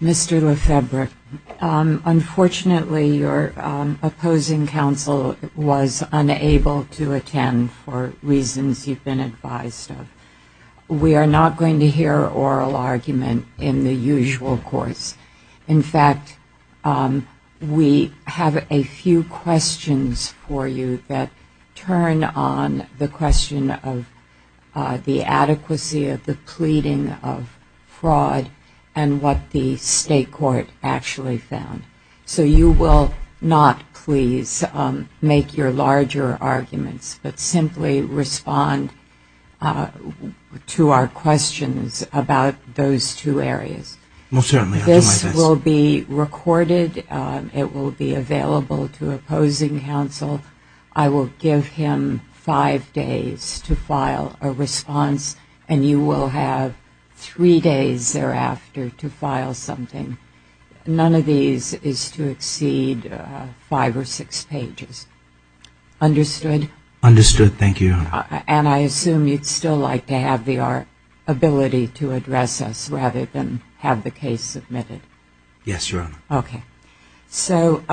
Mr. Lefebvre, unfortunately your opposing counsel was unable to attend for reasons you've been advised of. We are not going to hear oral argument in the usual course. In fact, we have a few questions for you that turn on the question of the adequacy of the pleading of fraud and what the state court actually found. So you will not please make your larger arguments but simply respond to our questions about those two areas. This will be recorded. It will be available to opposing counsel. I will give him five days to file a response and you will have three days thereafter to file something. None of these is to exceed five or six pages. Understood? Mr. Lefebvre Understood. Thank you. And I assume you'd still like to have the ability to address us rather than have the Mr. Lefebvre Yes, Your Honor. Ms. Brewer Okay. So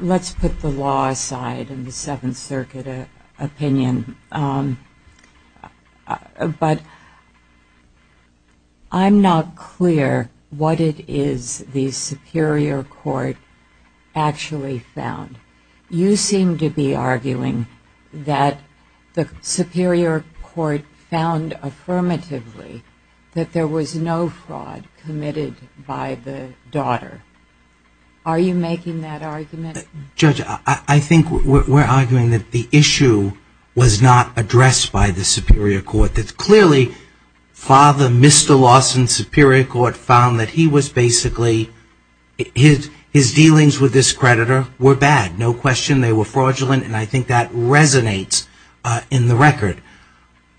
let's put the law aside and the Seventh Circuit opinion, but I'm not clear what it is the Superior Court actually found. You seem to be arguing that the Supreme Court found affirmatively that there was no fraud committed by the daughter. Are you making that argument? Mr. Lefebvre Judge, I think we're arguing that the issue was not addressed by the Superior Court. Clearly, Father Mr. Lawson's Superior Court found that he was basically, his dealings with this creditor were bad, no question. They were fraudulent and I think that resonates in the record.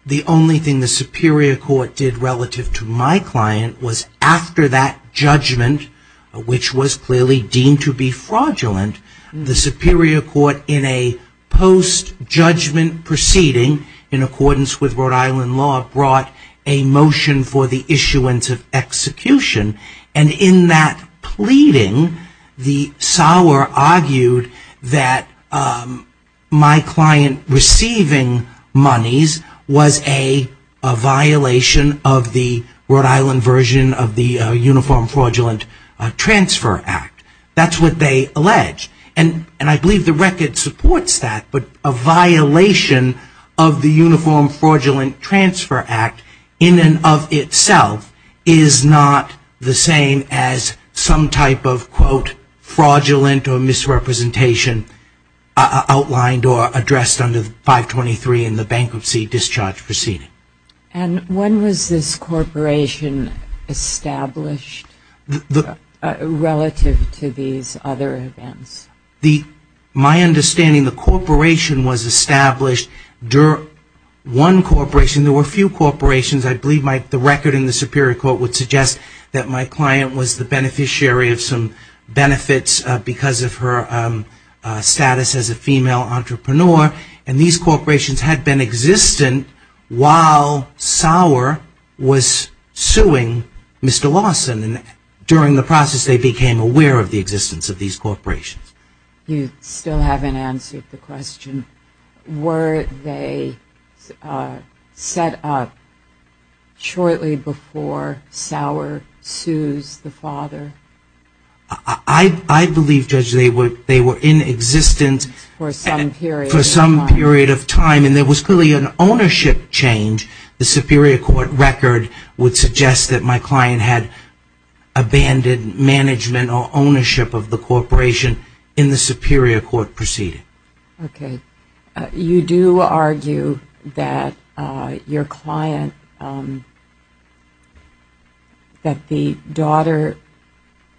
The only thing the Superior Court did relative to my client was after that judgment, which was clearly deemed to be fraudulent, the Superior Court in a post judgment proceeding in accordance with Rhode Island law brought a motion for the issuance of execution and in that pleading the sower argued that my client receiving monies was a violation of the Rhode Island version of the Uniform Fraudulent Transfer Act. That's what they allege and I believe the record supports that, but a violation of the Uniform Fraudulent Transfer Act is not the same as some type of, quote, fraudulent or misrepresentation outlined or addressed under 523 in the bankruptcy discharge proceeding. And when was this corporation established relative to these other events? My understanding, the corporation was established during, one corporation, there were a few corporations, the Superior Court would suggest that my client was the beneficiary of some benefits because of her status as a female entrepreneur and these corporations had been existent while Sower was suing Mr. Lawson and during the process they became aware of the existence of these corporations. You still haven't answered the question, were they set up shortly before Sower's sues the father? I believe, Judge, they were in existence for some period of time and there was clearly an ownership change. The Superior Court record would suggest that my client had abandoned management or ownership of the corporation in the Superior Court proceeding. Okay. You do argue that your client, that the daughter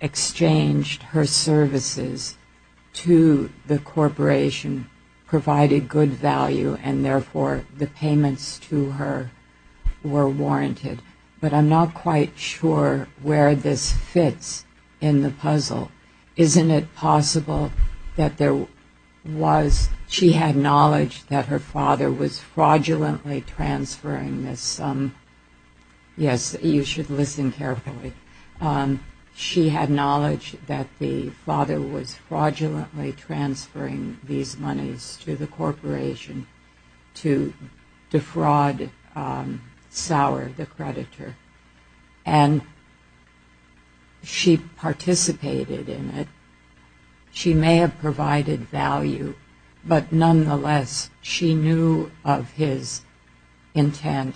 exchanged her services to the corporation, provided good value and therefore the payments to her were warranted, but I'm not quite sure where this fits in the puzzle. Isn't it possible that there was, she had knowledge that her father was fraudulently transferring this, yes, you should listen carefully, she had knowledge that the father was fraudulently transferring these monies to the corporation to defraud Sower, the creditor, and she participated in it, she may have provided value, but nonetheless she knew of his intent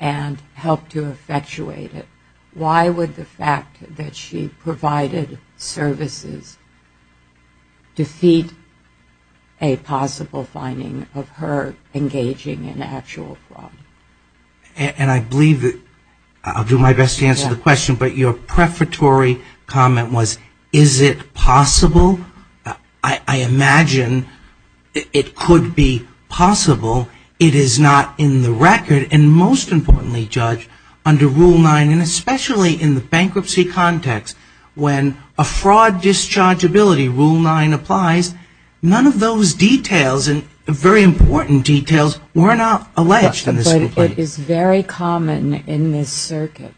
and helped to effectuate it. Why would the fact that she provided services defeat a possible finding of her engaging in actual fraud? And I believe that, I'll do my best to answer the question, but your prefatory comment was, is it possible? I imagine it could be possible. It is not in the record, and most importantly, Judge, under Rule 9, and especially in the bankruptcy context, when a fraud discharge ability, Rule 9 applies, none of those details and very important details were not alleged in this complaint. But it is very common in this circuit,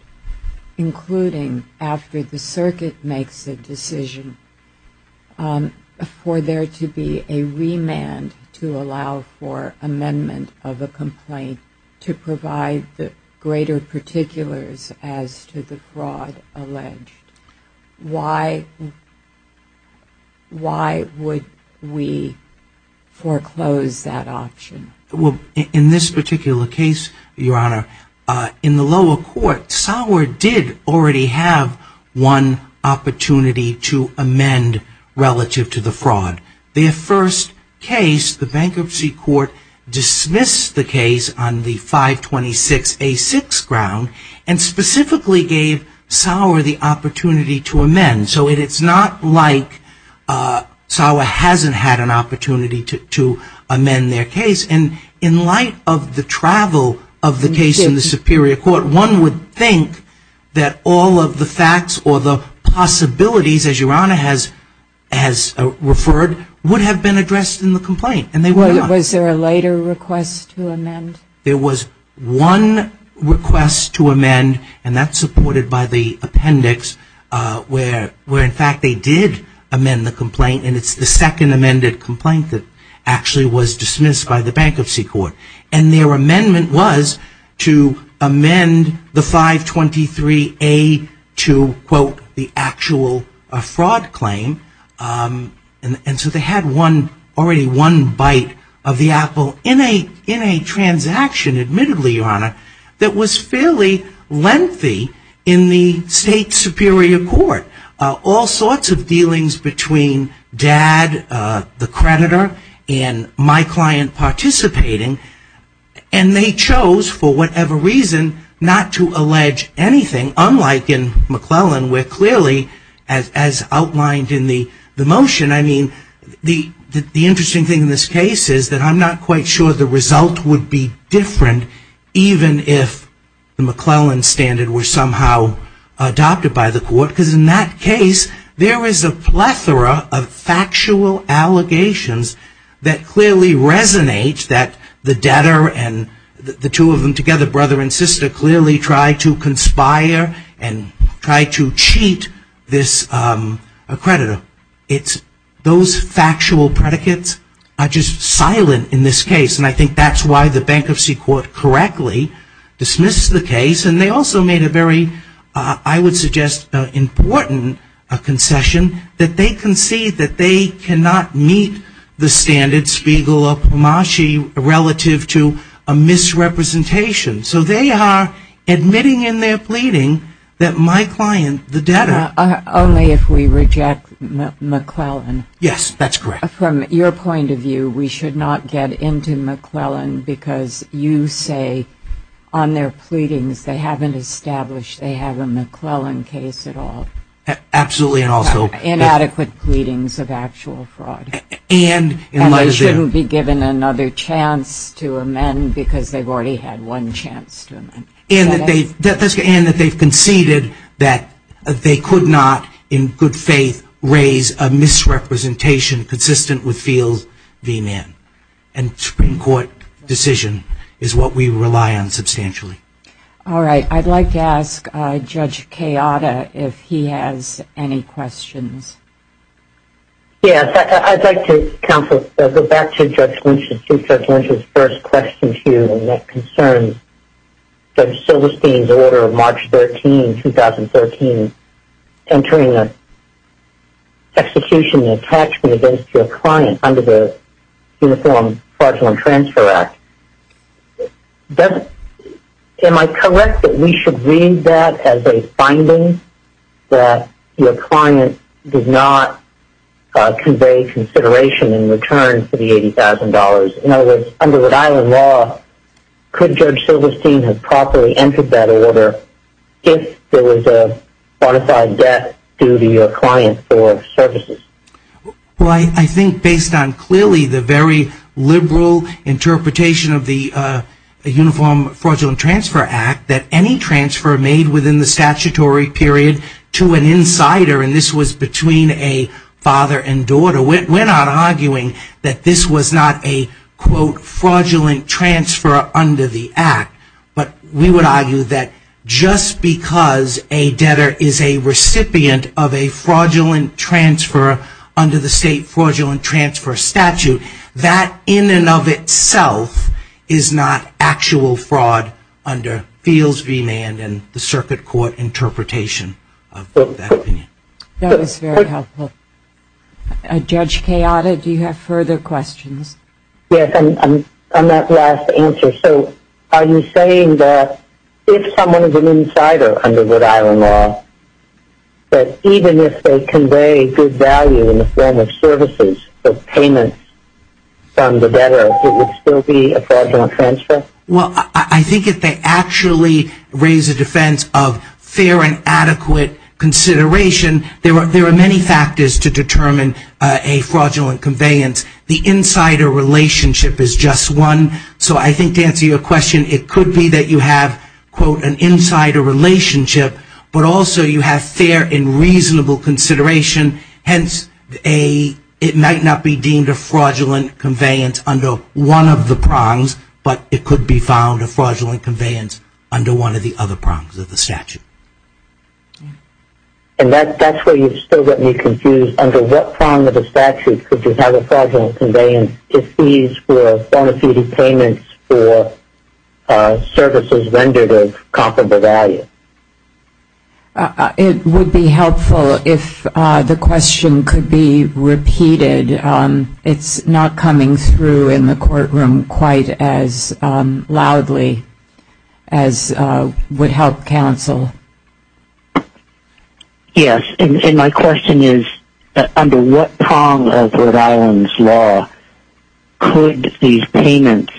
including after the circuit makes a decision, for there to be a remand to allow for amendment of a complaint to provide the greater particulars as to the fraud alleged. Why would we foreclose that option? In this particular case, Your Honor, in the lower court, Sower did already have one opportunity to amend relative to the fraud. Their first case, the bankruptcy court dismissed the case on the 526A6 ground and specifically gave Sower the opportunity to amend. So it is not like Sower hasn't had an opportunity to amend the case, and in light of the travel of the case in the superior court, one would think that all of the facts or the possibilities, as Your Honor has referred, would have been addressed in the complaint, and they were not. Was there a later request to amend? There was one request to amend, and that's supported by the appendix, where in fact they did amend the case by the bankruptcy court, and their amendment was to amend the 523A to, quote, the actual fraud claim. And so they had one, already one bite of the apple in a transaction, admittedly, Your Honor, that was fairly lengthy in the state superior court. All sorts of dealings between dad, the creditor, and my client, particularly, and they chose, for whatever reason, not to allege anything, unlike in McClellan, where clearly, as outlined in the motion, I mean, the interesting thing in this case is that I'm not quite sure the result would be different, even if the McClellan standard were somehow adopted by the court, because in that case, there is a plethora of factual allegations that clearly resonate that the debtor and the two of them together, brother and sister, clearly tried to conspire and tried to cheat this creditor. It's those factual predicates are just silent in this case, and I think that's why the bankruptcy court correctly dismissed the case, and they also made a very, I would suggest, important concession that they concede that they cannot meet the standard Spiegel or Pomaschie relative to a misrepresentation. So they are admitting in their pleading that my client, the debtor Only if we reject McClellan. Yes, that's correct. From your point of view, we should not get into McClellan, because you say on their pleadings they haven't established they have a absolutely and also Inadequate pleadings of actual fraud. And they shouldn't be given another chance to amend, because they've already had one chance to amend. And that they've conceded that they could not, in good faith, raise a misrepresentation consistent with Fields v. Mann. And the Supreme Court decision is what we rely on substantially. All right, I'd like to ask Judge Kayada if he has any questions. Yes, I'd like to go back to Judge Lynch's first question to you, and that concerns Judge Silverstein's order of March 13, 2013, entering the execution and fraudulent transfer act. Am I correct that we should read that as a finding that your client did not convey consideration in return for the $80,000? In other words, under Rhode Island law, could Judge Silverstein have properly entered that order if there was a fortified debt due to your client for services? Well, I think based on clearly the very liberal interpretation of the Uniform Fraudulent Transfer Act, that any transfer made within the statutory period to an insider, and this was between a father and daughter. We're not arguing that this was not a, quote, fraudulent transfer under the act. But we would argue that just because a father and daughter are under the state fraudulent transfer statute, that in and of itself is not actual fraud under Fields v. Mann and the circuit court interpretation of that opinion. That was very helpful. Judge Kayada, do you have further questions? Yes, on that last answer. So are you saying that if someone is an insider under Rhode Island law, that even if they convey good value in the form of services or payments from the debtor, it would still be a fraudulent transfer? Well, I think if they actually raise a defense of fair and adequate consideration, there are many factors to determine a fraudulent conveyance. The insider relationship is just one. So I think to answer your question, yes, you have, quote, an insider relationship, but also you have fair and reasonable consideration. Hence, it might not be deemed a fraudulent conveyance under one of the prongs, but it could be found a fraudulent conveyance under one of the other prongs of the statute. And that's where you still get me confused. Under what prong of the statute could you have a fraudulent conveyance if these were bona fide payments for services rendered of comparable value? It would be helpful if the question could be repeated. It's not coming through in the courtroom quite as loudly as would help counsel. Yes. And my question is, under what prong of Rhode Island's law could these payments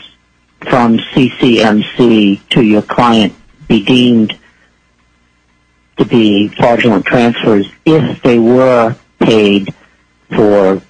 from CCMC to your client be deemed to be fraudulent transfers if they were paid for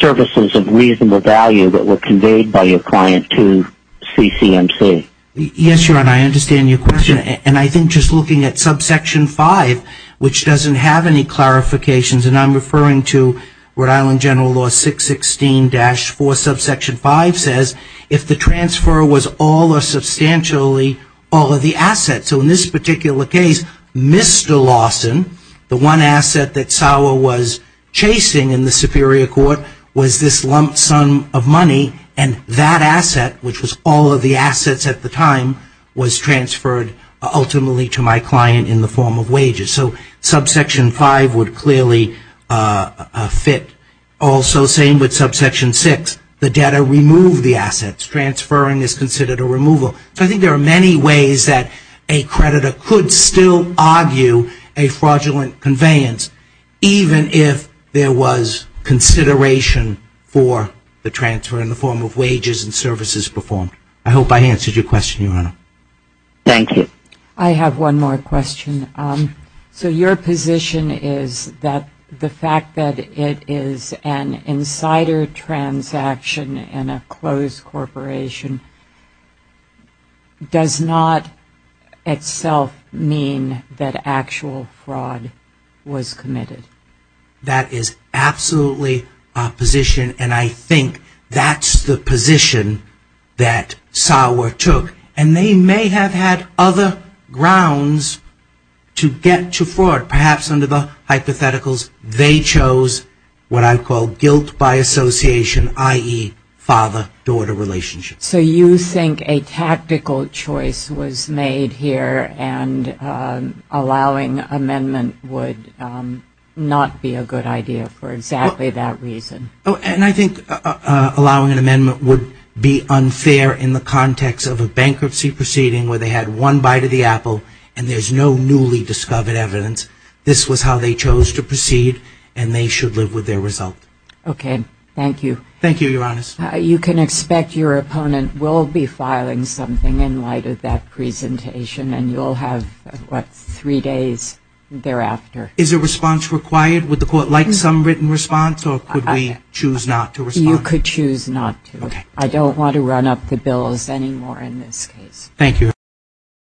services of reasonable value that were conveyed by your client to CCMC? Yes, Your Honor, I understand your question. And I think just looking at subsection 5, which doesn't have any clarifications, and I'm referring to Rhode Island General Law 616-4, subsection 5 says if the transfer was all or substantially all of the assets. So in this particular case, Mr. Larson, the one asset that Sauer was chasing in the Superior Court was this lump sum of money, and that asset, which was all of the assets at the time, was transferred ultimately to my client in the form of wages. So subsection 5 would clearly fit. Also, same with subsection 6. The debtor removed the assets. Transferring is considered a removal. So I think there are many ways that a creditor could still argue a fraudulent conveyance even if there was consideration for the transfer in the form of wages and services performed. I hope I answered your question, Your Honor. Thank you. I have one more question. So your position is that the fact that it is an insider transaction in a closed corporation does not itself mean that actual fraud was committed? That is absolutely our position, and I think that's the position that Sauer took, and they may have had other grounds to get to fraud. Perhaps under the hypotheticals, they chose what I think is a tactical choice was made here, and allowing amendment would not be a good idea for exactly that reason. And I think allowing an amendment would be unfair in the context of a bankruptcy proceeding where they had one bite of the apple and there's no newly discovered evidence. This was how they chose to proceed, and they should live with their result. Okay. Thank you. Thank you, Your Honor. You can expect your opponent will be filing something in light of that presentation, and you'll have, what, three days thereafter. Is a response required? Would the court like some written response, or could we choose not to respond? You could choose not to. I don't want to run up the bills